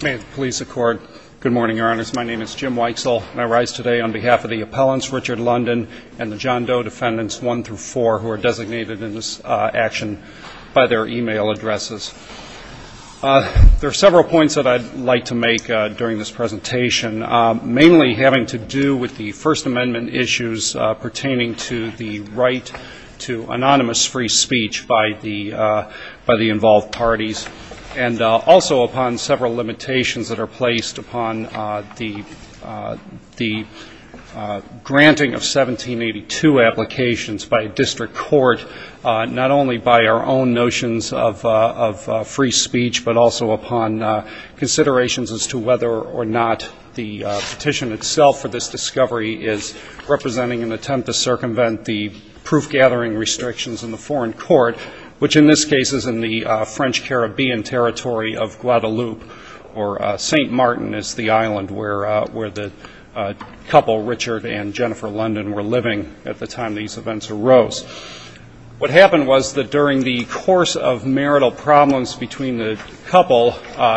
There are several points that I'd like to make during this presentation, mainly having to do with the First Amendment issues pertaining to the right to anonymous free speech by the involved parties, and also upon several limitations that are placed upon the granting of 1782 applications by a district court, not only by our own notions of free speech, but also upon considerations as to whether or not the petition itself for this discovery is representing an attempt to circumvent the proof-gathering restrictions in the foreign court, which in this case is in the French Caribbean territory of Guadeloupe, or St. Martin is the island where the couple, Richard and Jennifer London, were living at the time these events arose. What happened was that during the course of marital problems between the couple,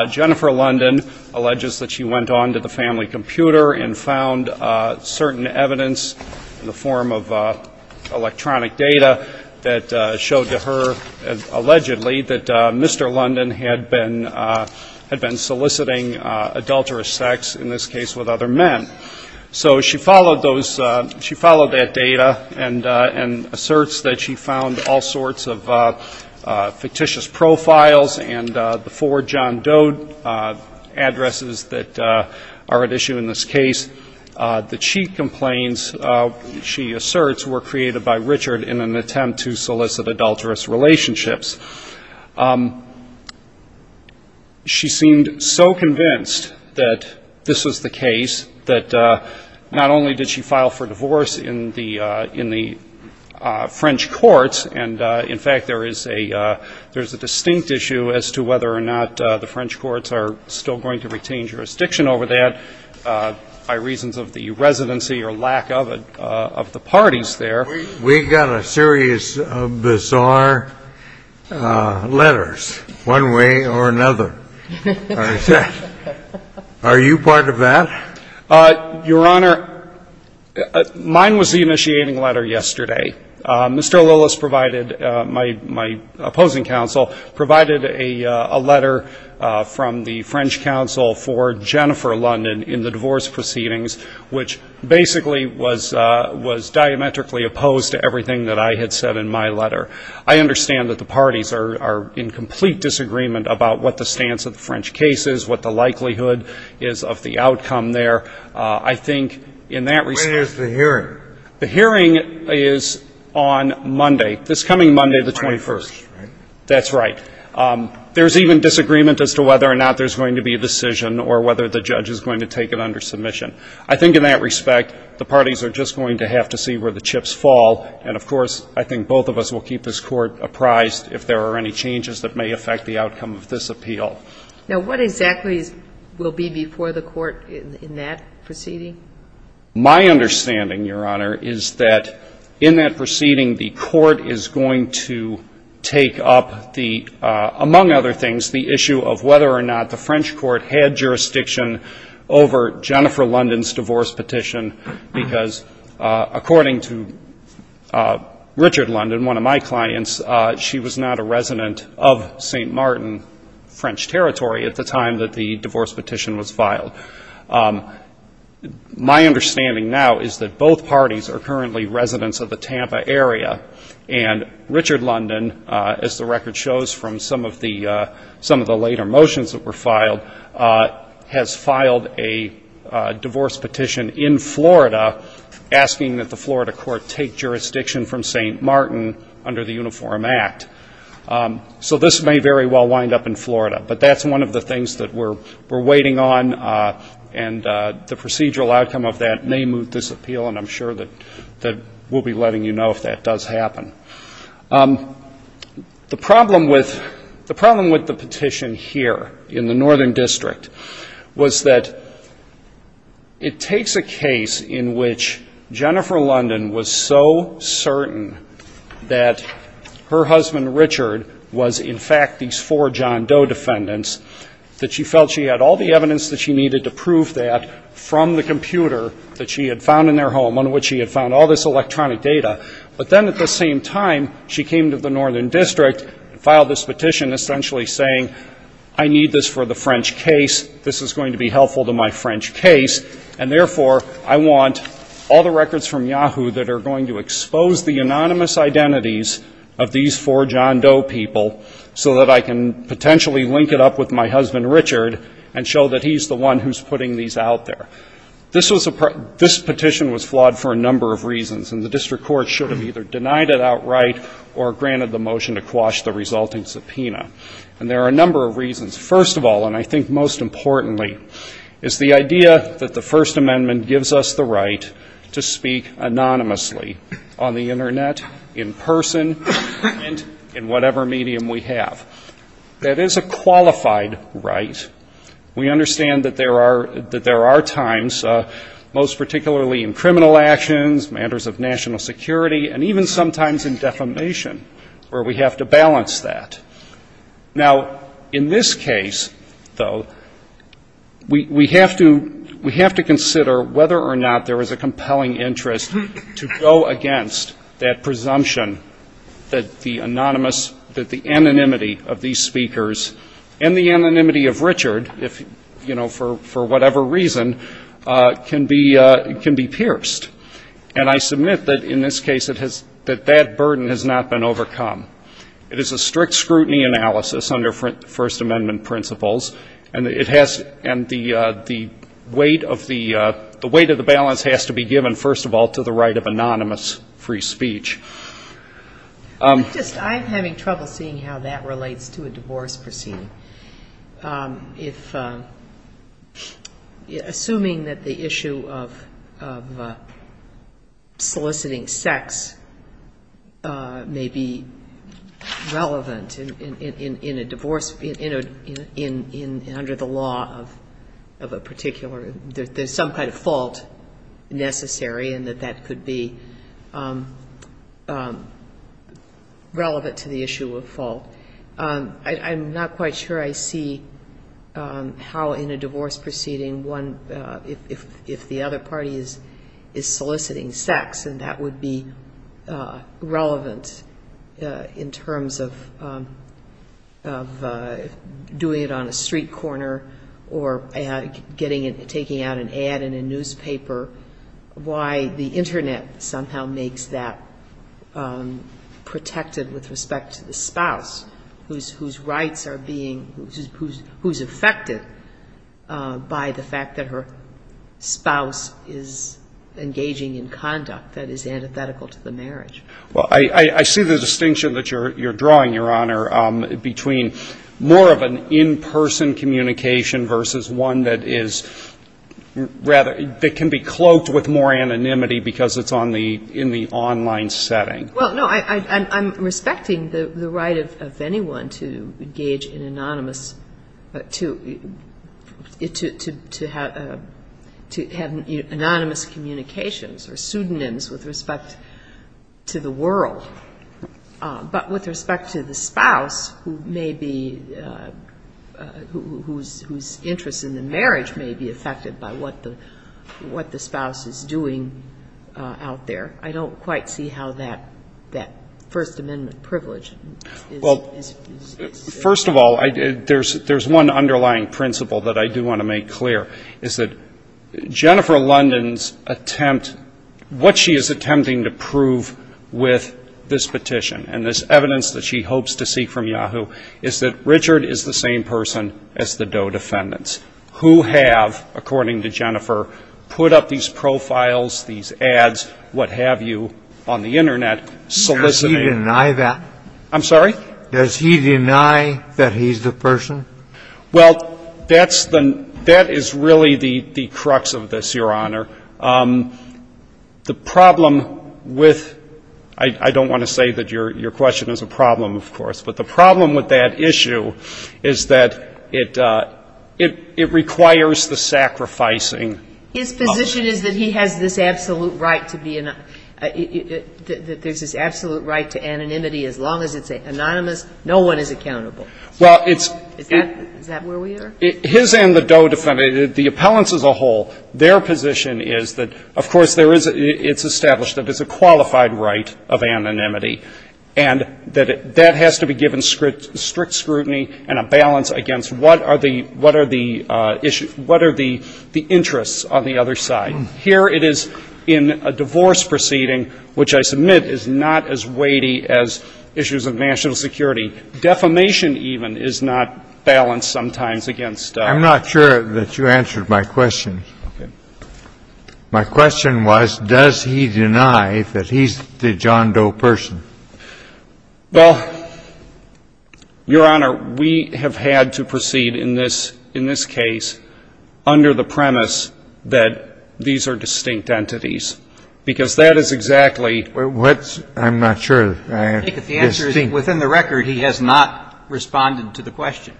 Jennifer London alleges that she went on to the family computer and found certain evidence in the allegedly that Mr. London had been soliciting adulterous sex, in this case with other men. So she followed those ‑‑ she followed that data and asserts that she found all sorts of fictitious profiles and the four John Doe addresses that are at issue in this case. The cheat complaints, she asserts, were created by Richard in an attempt to solicit adulterous relationships. She seemed so convinced that this was the case that not only did she file for divorce in the French courts, and in fact there is a distinct issue as to whether or not the French courts are still going to retain jurisdiction over that by reasons of the residency or lack of it of the parties there. We got a series of bizarre letters, one way or another. Are you part of that? Your Honor, mine was the initiating letter yesterday. Mr. Lillis provided my opposing counsel, provided a letter from the French counsel for Jennifer London in the divorce proceedings, which basically was diametrically opposed to everything that I had said in my letter. I understand that the parties are in complete disagreement about what the stance of the French case is, what the likelihood is of the outcome there. I think in that respect ‑‑ When is the hearing? The hearing is on Monday, this coming Monday, the 21st. The 21st, right? That's right. There's even disagreement as to whether or not there's going to be a decision or whether the judge is going to take it under submission. I think in that respect, the parties are just going to have to see where the chips fall. And of course, I think both of us will keep this Court apprised if there are any changes that may affect the outcome of this appeal. Now, what exactly will be before the Court in that proceeding? My understanding, Your Honor, is that in that proceeding, the Court is going to take up the ‑‑ among other things, the issue of whether or not the French Court had jurisdiction over Jennifer London's divorce petition, because according to Richard London, one of my clients, she was not a resident of St. Martin, French territory, at the time that the divorce petition was filed. My understanding now is that both parties are currently residents of the Tampa area, and Richard London, as the record shows from some of the later motions that were filed, has filed a divorce petition in Florida asking that the Florida Court take jurisdiction from St. Martin under the Uniform Act. So this may very well wind up in Florida, but that's one of the things that we're waiting on, and the procedural outcome of that may move this appeal, and I'm sure that we'll be letting you know if that does happen. The problem with the petition here in the Northern District was that it takes a case in which Jennifer London was so certain that her husband, Richard, was in fact these four John Doe defendants, that she felt she had all the evidence that she needed to prove that from the computer that she had found in their home, on which she had found all this electronic data, but then at the same time, she came to the Northern District and filed this petition essentially saying, I need this for the French case, this is going to be helpful to my French case, and therefore, I want all the records from Yahoo that are going to expose the anonymous identities of these four John Doe people, so that I can potentially link it up with my husband, Richard, and show that he's the one who's putting these out there. This was a part of this petition was flawed for a number of reasons, and the District Court should have either denied it outright or granted the motion to quash the resulting subpoena, and there are a number of reasons. First of all, and I think most importantly, is the idea that the First Amendment gives us the right to speak anonymously on the Internet, in person, and in whatever medium we have. That is a qualified right. We understand that there are times, most particularly in criminal actions, matters of national security, and even sometimes in defamation, where we have to balance that. Now, in this case, though, we have to consider whether or not there is a compelling interest to go against that presumption that the anonymous, that the anonymity of these speakers and the anonymity of Richard, you know, for whatever reason, can be pierced. And I submit that in this case it has, that that burden has not been overcome. It is a strict scrutiny analysis under First Amendment principles, and it has, and the weight of the, the weight of the balance has to be given, first of all, to the right of anonymous free speech. I'm just, I'm having trouble seeing how that relates to a divorce proceeding. If, assuming that the issue of soliciting sex may be relevant in a divorce, in a, in, under the law of a particular, there's some kind of fault necessary and that that could be relevant to the issue of fault, I'm not quite sure I see how in a divorce proceeding one is, if the other party is soliciting sex, and that would be relevant in terms of doing it on a street corner or getting it, taking out an ad in a newspaper, why the Internet somehow makes that protected with respect to the spouse whose rights are being, who's affected by the fact that her spouse is engaging in conduct that is antithetical to the marriage. Well, I, I see the distinction that you're, you're drawing, Your Honor, between more of an in-person communication versus one that is rather, that can be cloaked with more anonymity because it's on the, in the online setting. Well, no, I, I, I'm respecting the right of, of anyone to engage in anonymous, to, to, to have, to have anonymous communications or pseudonyms with respect to the world, but with respect to the spouse who may be, whose, whose interest in the marriage may be affected by what the, what the spouse is doing out there. I don't quite see how that, that First Amendment privilege is, is, is. First of all, I, there's, there's one underlying principle that I do want to make clear, is that Jennifer London's attempt, what she is attempting to prove with this petition and this evidence that she hopes to seek from Yahoo is that Richard is the same person as the Doe defendants, who have, according to Jennifer, put up these profiles, these ads, what have you, on the Internet, soliciting. Does he deny that? I'm sorry? Does he deny that he's the person? Well, that's the, that is really the, the crux of this, Your Honor. The problem with, I, I don't want to say that your, your question is a problem, of course, but the problem with that issue is that it, it, it requires the sacrificing of the person. His position is that he has this absolute right to be, that there's this absolute right to anonymity, as long as it's anonymous, no one is accountable. Well, it's, it's, is that, is that where we are? His and the Doe defendants, the appellants as a whole, their position is that, of course, there is a, it's established that it's a qualified right of anonymity, and that it, that has to be given strict, strict scrutiny and a balance against what are the, what are the issues, what are the, the interests on the other side. Here it is in a divorce proceeding, which I submit is not as weighty as issues of national security. Defamation, even, is not balanced sometimes against. I'm not sure that you answered my question. Okay. My question was, does he deny that he's the John Doe person? Well, Your Honor, we have had to proceed in this, in this case under the premise that these are distinct entities, because that is exactly. What's, I'm not sure. I think that the answer is within the record, he has not responded to the question.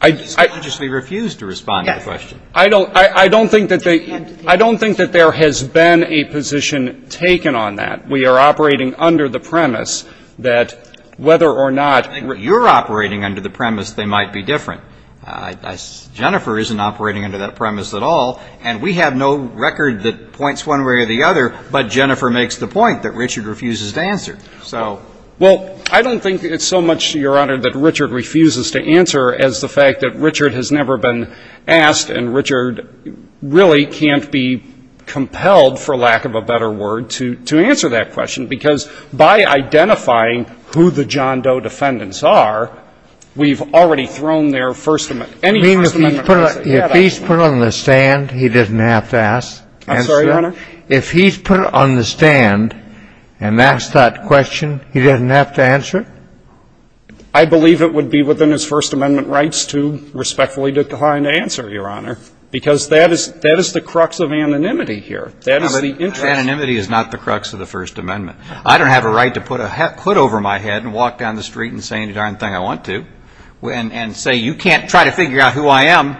I. He just refused to respond to the question. I don't, I, I don't think that they, I don't think that there has been a position taken on that. We are operating under the premise that whether or not. You're operating under the premise they might be different. Jennifer isn't operating under that premise at all, and we have no record that points one way or the other, but Jennifer makes the point that Richard refuses to answer. So. Well, I don't think it's so much, Your Honor, that Richard refuses to answer as the fact that Richard has never been asked, and Richard really can't be compelled, for lack of a better word, to, to answer that question, because by identifying who the John Doe defendants are, we've already thrown their First Amendment, any First Amendment. If he's put on the stand, he doesn't have to ask. I'm sorry, Your Honor? If he's put on the stand and asked that question, he doesn't have to answer? I believe it would be within his First Amendment rights to respectfully decline to answer, Your Honor, because that is, that is the crux of anonymity here. That is the interest. Anonymity is not the crux of the First Amendment. I don't have a right to put a, put over my head and walk down the street and say any darn thing I want to and, and say you can't try to figure out who I am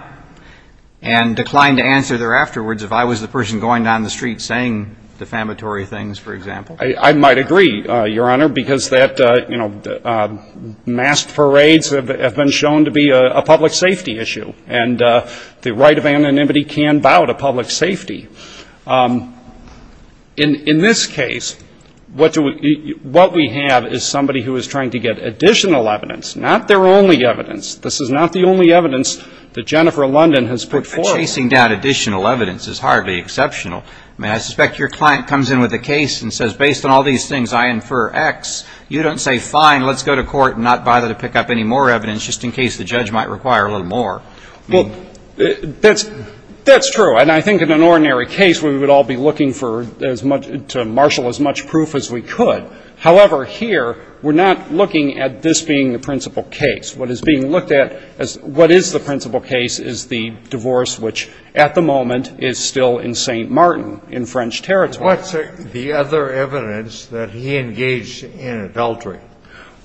and decline to answer thereafterwards if I was the person going down the street saying defamatory things, for example. I, I might agree, Your Honor, because that, you know, mass parades have, have been shown to be a, a public safety issue, and the right of anonymity can bow to public safety. In, in this case, what do we, what we have is somebody who is trying to get additional evidence, not their only evidence. This is not the only evidence that Jennifer London has put forward. But chasing down additional evidence is hardly exceptional. I mean, I suspect your client comes in with a case and says, based on all these things, I infer X. You don't say, fine, let's go to court and not bother to pick up any more evidence just in case the judge might require a little more. Well, in this particular case, we would all be looking for as much, to marshal as much proof as we could. However, here, we're not looking at this being the principal case. What is being looked at as what is the principal case is the divorce, which at the moment is still in St. Martin in French territory. What's the other evidence that he engaged in adultery?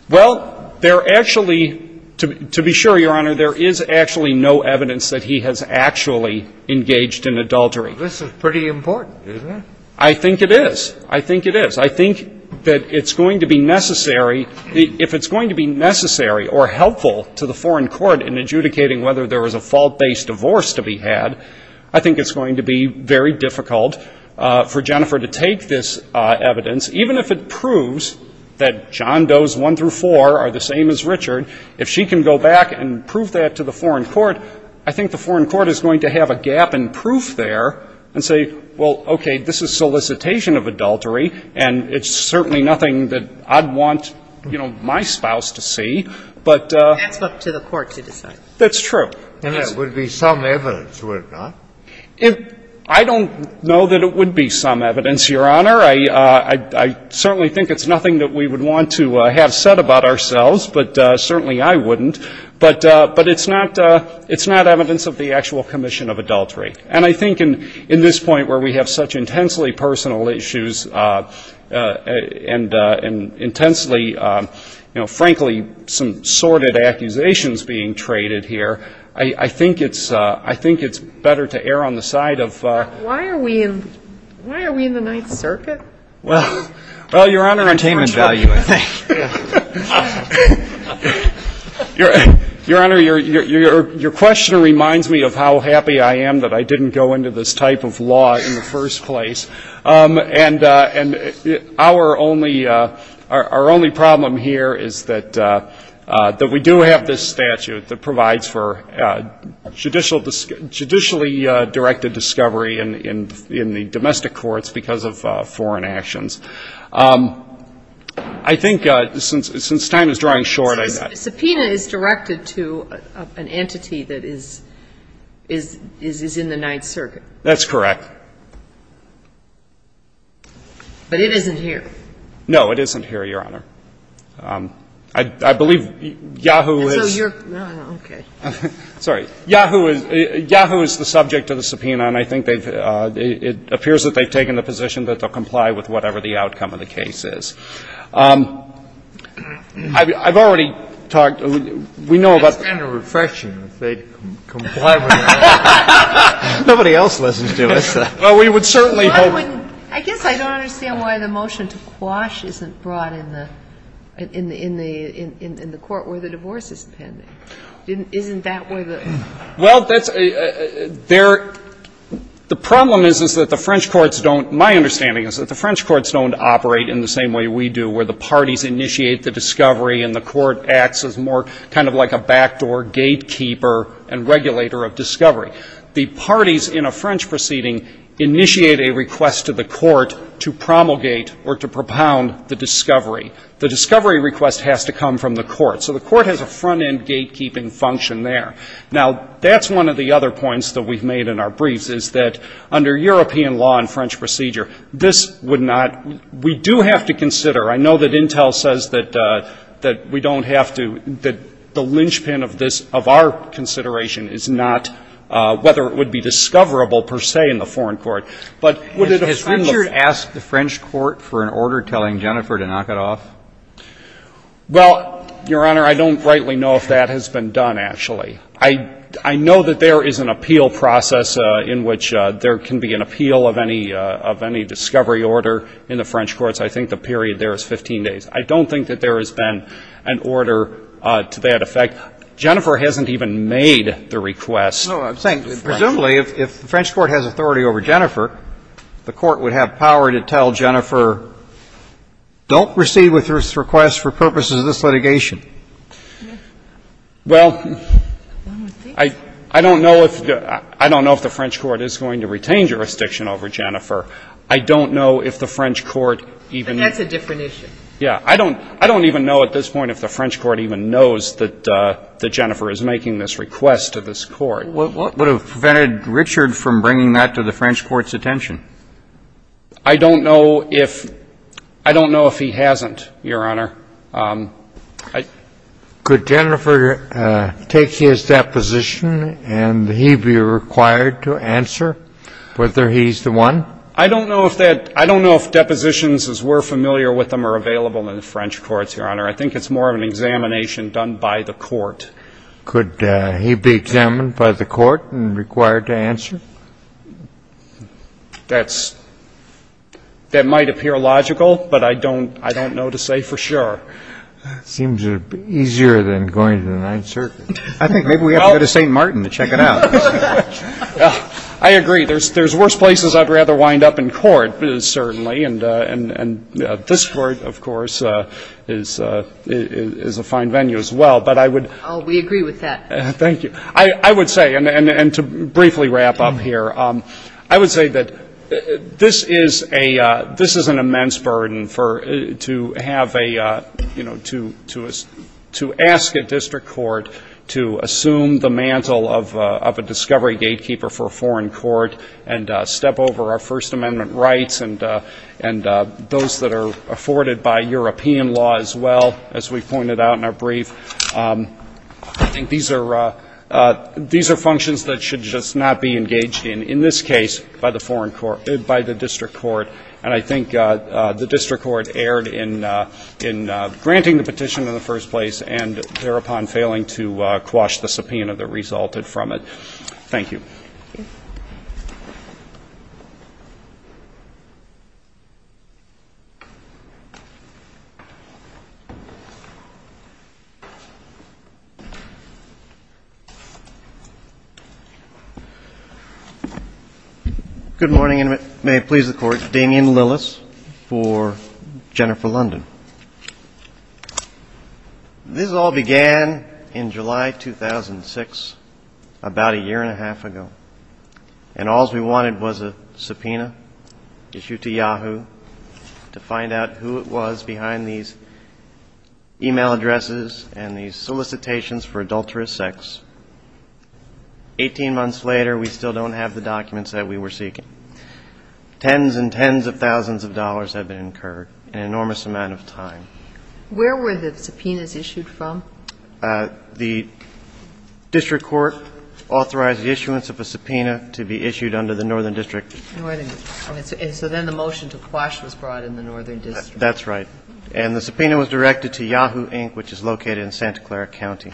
Well, there actually, to, to be sure, Your Honor, there is actually no evidence that he has actually engaged in adultery. This is pretty important, isn't it? I think it is. I think it is. I think that it's going to be necessary, if it's going to be necessary or helpful to the Foreign Court in adjudicating whether there was a fault-based divorce to be had, I think it's going to be very difficult for Jennifer to take this evidence, even if it proves that John Does I through IV are the same as Richard. If she can go back and prove that to the Foreign Court, I think the Foreign Court is going to have a gap in proof there and say, well, okay, this is solicitation of adultery, and it's certainly nothing that I'd want, you know, my spouse to see. But the Court to decide. That's true. And there would be some evidence, would it not? I don't know that it would be some evidence, Your Honor. I certainly think it's nothing that we would want to have said about ourselves. But certainly I wouldn't. But it's not evidence of the actual commission of adultery. And I think in this point where we have such intensely personal issues and intensely, you know, frankly, some sordid accusations being traded here, I think it's better to err on the side of why are we in the Ninth Circuit? Well, Your Honor, your question reminds me of how happy I am that I didn't go into this type of law in the first place, and our only problem here is that we do have this statute that provides for judicially directed discovery in the domestic courts because of foreign actions. I think since time is drawing short, I think. Subpoena is directed to an entity that is in the Ninth Circuit. That's correct. But it isn't here. No, it isn't here, Your Honor. I believe Yahoo is. So you're, okay. Sorry. Yahoo is the subject of the subpoena, and I think it appears that they've taken the position that they'll comply with whatever the outcome of the case is. I've already talked, we know about. It's kind of refreshing that they'd comply with that. Nobody else listened to us. Well, we would certainly hope. I guess I don't understand why the motion to quash isn't brought in the court where the divorce is pending. Isn't that where the? Well, the problem is that the French courts don't, my understanding is that the French courts don't operate in the same way we do where the parties initiate the discovery and the court acts as more kind of like a backdoor gatekeeper and regulator of discovery. The parties in a French proceeding initiate a request to the court to promulgate or to propound the discovery. The discovery request has to come from the court. So the court has a front-end gatekeeping function there. Now, that's one of the other points that we've made in our briefs, is that under European law and French procedure, this would not, we do have to consider, I know that Intel says that we don't have to, that the linchpin of this, of our consideration is not whether it would be discoverable per se in the foreign court. But would it have been? Has Richard asked the French court for an order telling Jennifer to knock it off? Well, Your Honor, I don't rightly know if that has been done, actually. I know that there is an appeal process in which there can be an appeal of any discovery order in the French courts. I think the period there is 15 days. I don't think that there has been an order to that effect. Jennifer hasn't even made the request. No, I'm saying, presumably, if the French court has authority over Jennifer, the court would have power to tell Jennifer, don't proceed with this request for purposes of this litigation. Well, I don't know if the French court is going to retain jurisdiction over Jennifer. I don't know if the French court even. But that's a different issue. Yeah, I don't even know at this point if the French court even knows that Jennifer is making this request to this court. What would have prevented Richard from bringing that to the French court's attention? I don't know if he hasn't, Your Honor. Could Jennifer take his deposition, and he be required to answer whether he's the one? I don't know if depositions, as we're familiar with them, are available in the French courts, Your Honor. I think it's more of an examination done by the court. Could he be examined by the court and required to answer? That might appear logical, but I don't know to say for sure. Seems easier than going to the Ninth Circuit. I think maybe we have to go to St. Martin to check it out. I agree. There's worse places I'd rather wind up in court, certainly. And this court, of course, is a fine venue as well. We agree with that. Thank you. I would say, and to briefly wrap up here, I would say that this is an immense burden to ask a district court to assume the mantle of a discovery gatekeeper for a foreign court and step over our First Amendment rights and those that are afforded by European law as well, as we pointed out in our brief. I think these are functions that should just not be engaged in, in this case, by the district court. And I think the district court erred in granting the petition in the first place and thereupon failing to quash the subpoena that resulted from it. Thank you. Good morning, and may it please the Court. Damian Lillis for Jennifer London. This all began in July 2006, about a year and a half ago. And all we wanted was a subpoena issued to Yahoo to find out who it was behind these email addresses and these solicitations for adulterous sex. Eighteen months later, we still don't have the documents that we were seeking. Tens and tens of thousands of dollars have been incurred, an enormous amount of time. Where were the subpoenas issued from? The district court authorized the issuance of a subpoena to be issued under the Northern District. Northern District. And so then the motion to quash was brought in the Northern District. That's right. And the subpoena was directed to Yahoo, Inc., which is located in Santa Clara County.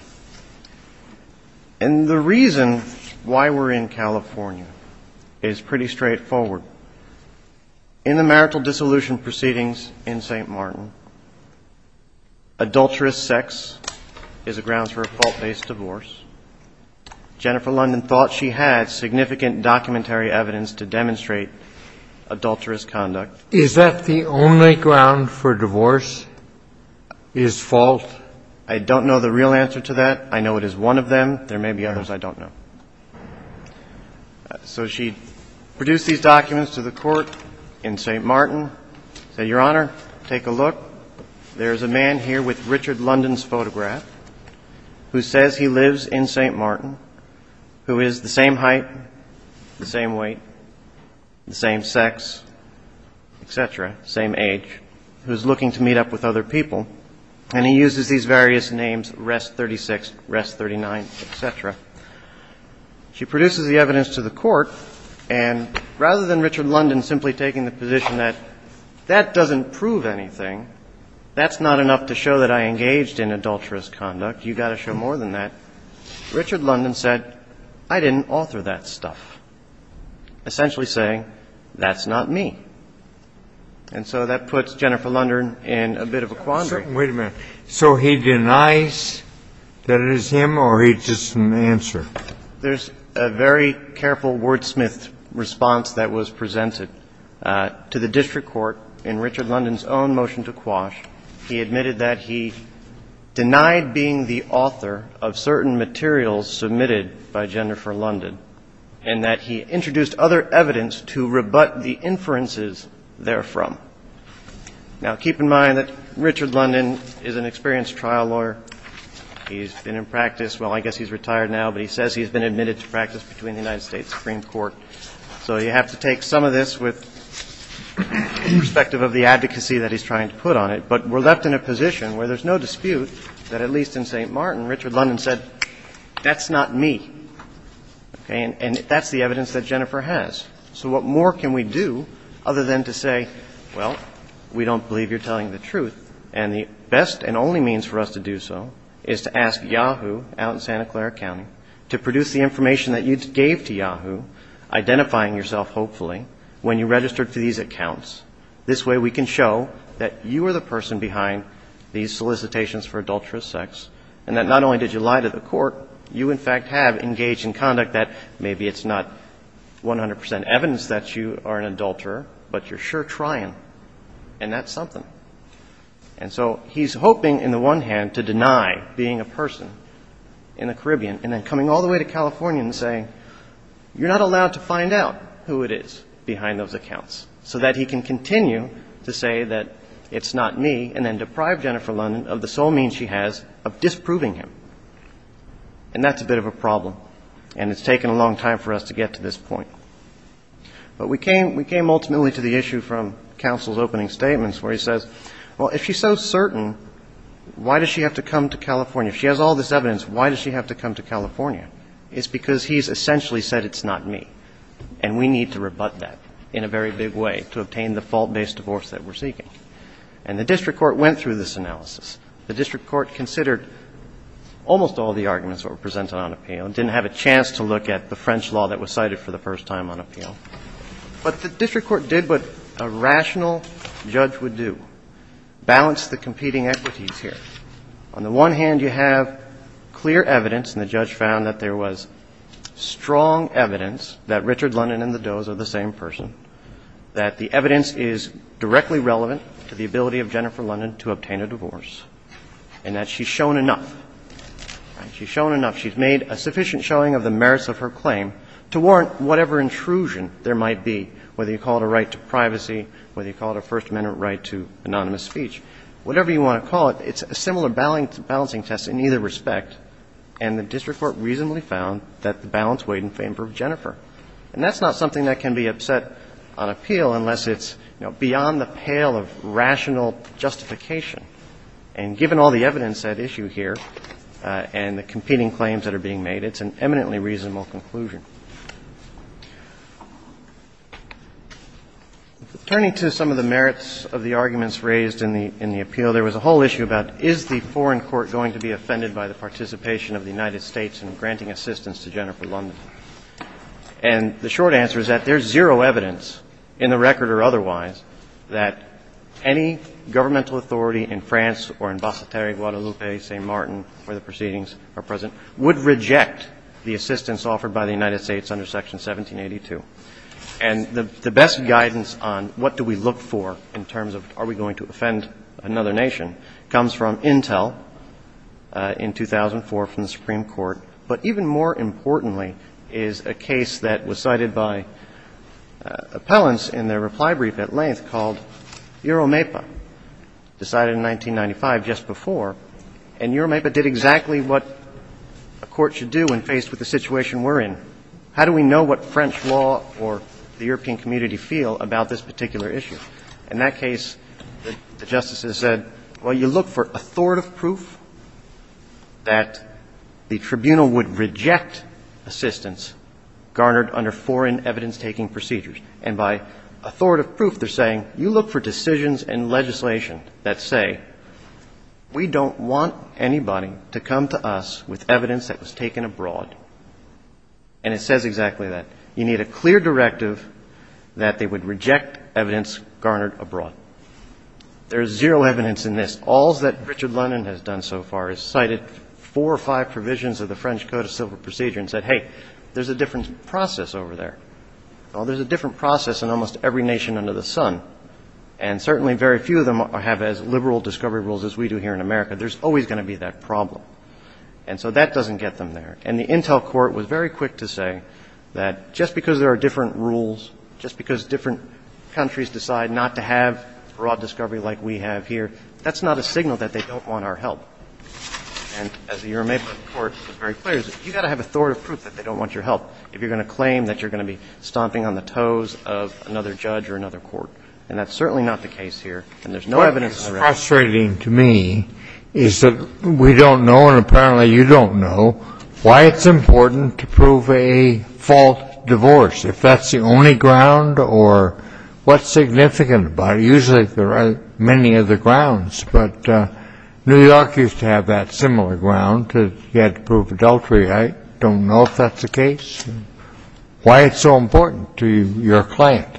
And the reason why we're in California is pretty straightforward. In the marital dissolution proceedings in St. Martin, adulterous sex is a ground for a fault-based divorce. Jennifer London thought she had significant documentary evidence to demonstrate adulterous conduct. Is that the only ground for divorce, is fault? I don't know the real answer to that. I know it is one of them. There may be others I don't know. So she produced these documents to the court in St. Martin, said, Your Honor, take a look. There is a man here with Richard London's photograph who says he lives in St. Martin, who is the same height, the same weight, the same sex, et cetera, same age, who is looking to meet up with other people. And he uses these various names, Rest 36, Rest 39, et cetera. She produces the evidence to the court. And rather than Richard London simply taking the position that that doesn't prove anything, that's not enough to show that I engaged in adulterous conduct, you've got to show more than that, Richard London said, I didn't author that stuff, essentially saying, that's not me. And so that puts Jennifer London in a bit of a quandary. Wait a minute. So he denies that it is him or he doesn't answer? There's a very careful wordsmith response that was presented to the district court in Richard London's own motion to quash. He admitted that he denied being the author of certain materials submitted by Jennifer London and that he introduced other evidence to rebut the inferences therefrom. Now, keep in mind that Richard London is an experienced trial lawyer. He's been in practice, well, I guess he's retired now, but he says he's been admitted to practice between the United States Supreme Court. So you have to take some of this with perspective of the advocacy that he's trying to put on it. But we're left in a position where there's no dispute that at least in St. Martin, Richard London said, that's not me. And that's the evidence that Jennifer has. So what more can we do other than to say, well, we don't believe you're telling the truth. And the best and only means for us to do so is to ask Yahoo out in Santa Clara County to produce the information that you gave to Yahoo, identifying yourself, hopefully, when you registered for these accounts. This way we can show that you are the person behind these solicitations for adulterous sex And that not only did you lie to the court, you in fact have engaged in conduct that maybe it's not 100 percent evidence that you are an adulterer, but you're sure trying, and that's something. And so he's hoping, in the one hand, to deny being a person in the Caribbean, and then coming all the way to California and saying, you're not allowed to find out who it is behind those accounts, so that he can continue to say that it's not me, and then deprive Jennifer London of the sole means she has of disproving him. And that's a bit of a problem, and it's taken a long time for us to get to this point. But we came ultimately to the issue from counsel's opening statements where he says, well, if she's so certain, why does she have to come to California? If she has all this evidence, why does she have to come to California? It's because he's essentially said it's not me, and we need to rebut that in a very big way to obtain the fault-based divorce that we're seeking. And the district court went through this analysis. The district court considered almost all the arguments that were presented on appeal, and didn't have a chance to look at the French law that was cited for the first time on appeal. But the district court did what a rational judge would do, balance the competing equities here. On the one hand, you have clear evidence, and the judge found that there was strong evidence that Richard London and the Does are the same person, to the ability of Jennifer London to obtain a divorce, and that she's shown enough. She's shown enough. She's made a sufficient showing of the merits of her claim to warrant whatever intrusion there might be, whether you call it a right to privacy, whether you call it a First Amendment right to anonymous speech, whatever you want to call it. It's a similar balancing test in either respect, and the district court reasonably found that the balance weighed in favor of Jennifer. And that's not something that can be upset on appeal unless it's, you know, beyond the pale of rational justification. And given all the evidence at issue here and the competing claims that are being made, it's an eminently reasonable conclusion. Turning to some of the merits of the arguments raised in the appeal, there was a whole issue about is the Foreign Court going to be offended by the participation of the United States in granting assistance to Jennifer London? And the short answer is that there's zero evidence, in the record or otherwise, that any governmental authority in France or in Basseterre, Guadalupe, St. Martin, where the proceedings are present, would reject the assistance offered by the United States under Section 1782. And the best guidance on what do we look for in terms of are we going to offend another nation comes from Intel. In 2004 from the Supreme Court, but even more importantly is a case that was cited by appellants in their reply brief at length called Euromaipa, decided in 1995 just before. And Euromaipa did exactly what a court should do when faced with the situation we're in. How do we know what French law or the European community feel about this particular issue? In that case, the justices said, well, you look for authoritative proof that the tribunal would reject assistance garnered under foreign evidence-taking procedures. And by authoritative proof, they're saying, you look for decisions and legislation that say, we don't want anybody to come to us with evidence that was taken abroad. And it says exactly that. You need a clear directive that they would reject evidence garnered abroad. There is zero evidence in this. All that Richard London has done so far is cited four or five provisions of the French Code of Civil Procedure and said, hey, there's a different process over there. Well, there's a different process in almost every nation under the sun. And certainly very few of them have as liberal discovery rules as we do here in America. There's always going to be that problem. And so that doesn't get them there. And the Intel Court was very quick to say that just because there are different rules, just because different countries decide not to have a broad discovery like we have here, that's not a signal that they don't want our help. And as the U.S. Supreme Court was very clear, you've got to have authoritative proof that they don't want your help if you're going to claim that you're going to be stomping on the toes of another judge or another court. And that's certainly not the case here. And there's no evidence of that. And I think what's frustrating to me is that we don't know, and apparently you don't know, why it's important to prove a false divorce, if that's the only ground or what's significant about it. Usually there are many other grounds, but New York used to have that similar ground. You had to prove adultery. I don't know if that's the case. Why it's so important to your client.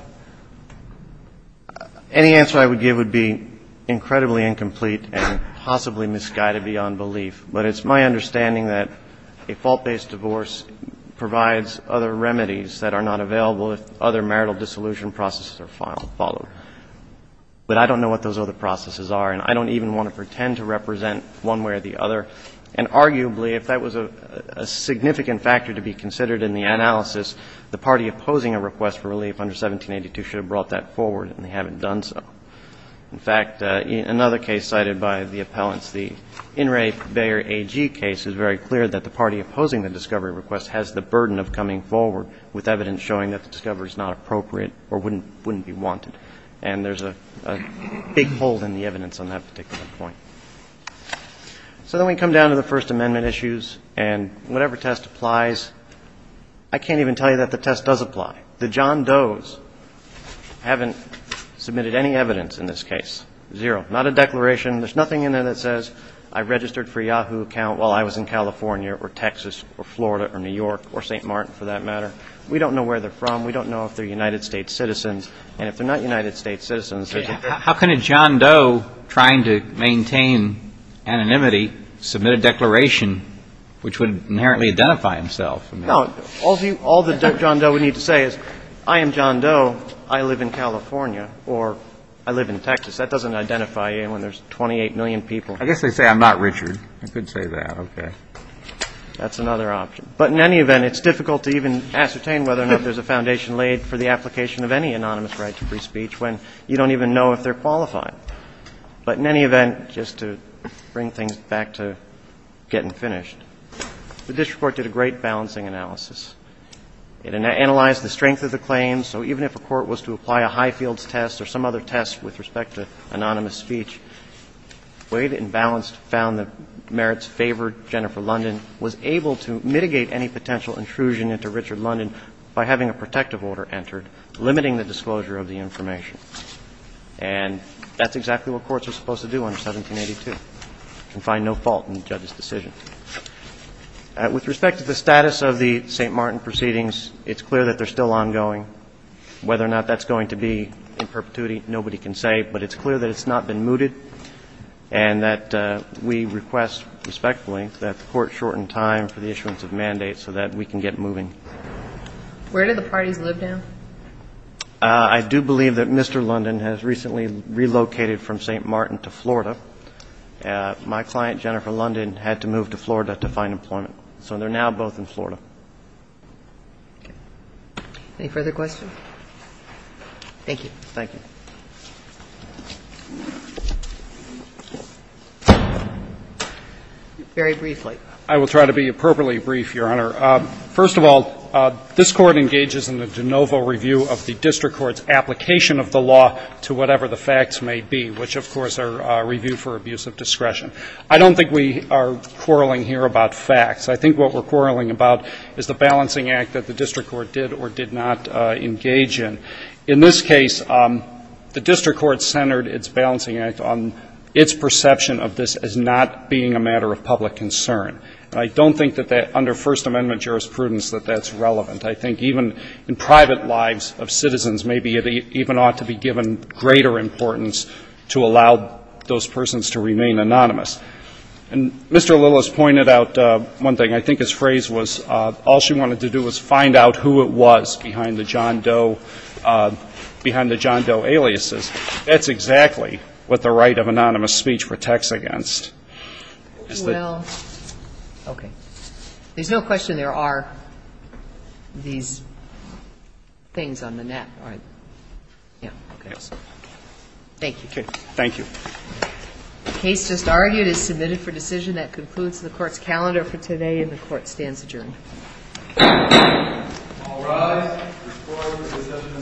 Any answer I would give would be incredibly incomplete and possibly misguided beyond belief, but it's my understanding that a fault-based divorce provides other remedies that are not available if other marital dissolution processes are followed. But I don't know what those other processes are, and I don't even want to pretend to represent one way or the other. And arguably, if that was a significant factor to be considered in the analysis, the party opposing a request for relief under 1782 should have brought that forward, and they haven't done so. In fact, another case cited by the appellants, the In re Beyer AG case, is very clear that the party opposing the discovery request has the burden of coming forward with evidence showing that the discovery is not appropriate or wouldn't be wanted. And there's a big hole in the evidence on that particular point. So then we come down to the First Amendment issues, and whatever test applies, I can't even tell you that the test does apply. The John Does haven't submitted any evidence in this case. Zero. Not a declaration. There's nothing in there that says I registered for Yahoo account while I was in California or Texas or Florida or New York or St. Martin, for that matter. We don't know where they're from. We don't know if they're United States citizens. And if they're not United States citizens, how can a John Doe trying to maintain anonymity submit a declaration which would inherently identify himself? No. All the John Doe would need to say is I am John Doe. I live in California or I live in Texas. That doesn't identify anyone. There's 28 million people. I guess they say I'm not Richard. I could say that. Okay. That's another option. But in any event, it's difficult to even ascertain whether or not there's a foundation laid for the application of any anonymous right to free speech when you don't even know if they're qualified. But in any event, just to bring things back to getting finished, the district court did a great balancing analysis. It analyzed the strength of the claims. So even if a court was to apply a Highfields test or some other test with respect to anonymous speech, it balanced, found the merits favored Jennifer London, was able to mitigate any potential intrusion into Richard London by having a protective order entered, limiting the disclosure of the information. And that's exactly what courts are supposed to do under 1782, to find no fault in the judge's decision. With respect to the status of the St. Martin proceedings, it's clear that they're still ongoing. Whether or not that's going to be in perpetuity, nobody can say. But it's clear that it's not been mooted and that we request, respectfully, that the court shorten time for the issuance of mandates so that we can get moving. Where do the parties live now? I do believe that Mr. London has recently relocated from St. Martin to Florida. My client, Jennifer London, had to move to Florida to find employment. So they're now both in Florida. Any further questions? Thank you. Very briefly. I will try to be appropriately brief, Your Honor. First of all, this Court engages in the de novo review of the district court's application of the law to whatever the facts may be, which, of course, are review for abuse of discretion. I don't think we are quarreling here about facts. I think what we're quarreling about is the balancing act that the district court did or did not engage in. In this case, the district court centered its balancing act on its perception of this as not being a matter of public concern. And I don't think that under First Amendment jurisprudence that that's relevant. I think even in private lives of citizens, maybe it even ought to be given greater importance to allow those persons to remain anonymous. And Mr. Lillis pointed out one thing. I think his phrase was all she wanted to do was find out who it was behind the John Doe aliases. That's exactly what the right of anonymous speech protects against. Well, okay. There's no question there are these things on the net, right? Yeah. Okay. Thank you. Thank you. The case just argued is submitted for decision. That concludes the court's calendar for today. And the court stands adjourned. All rise. The court is adjourned. The court is adjourned.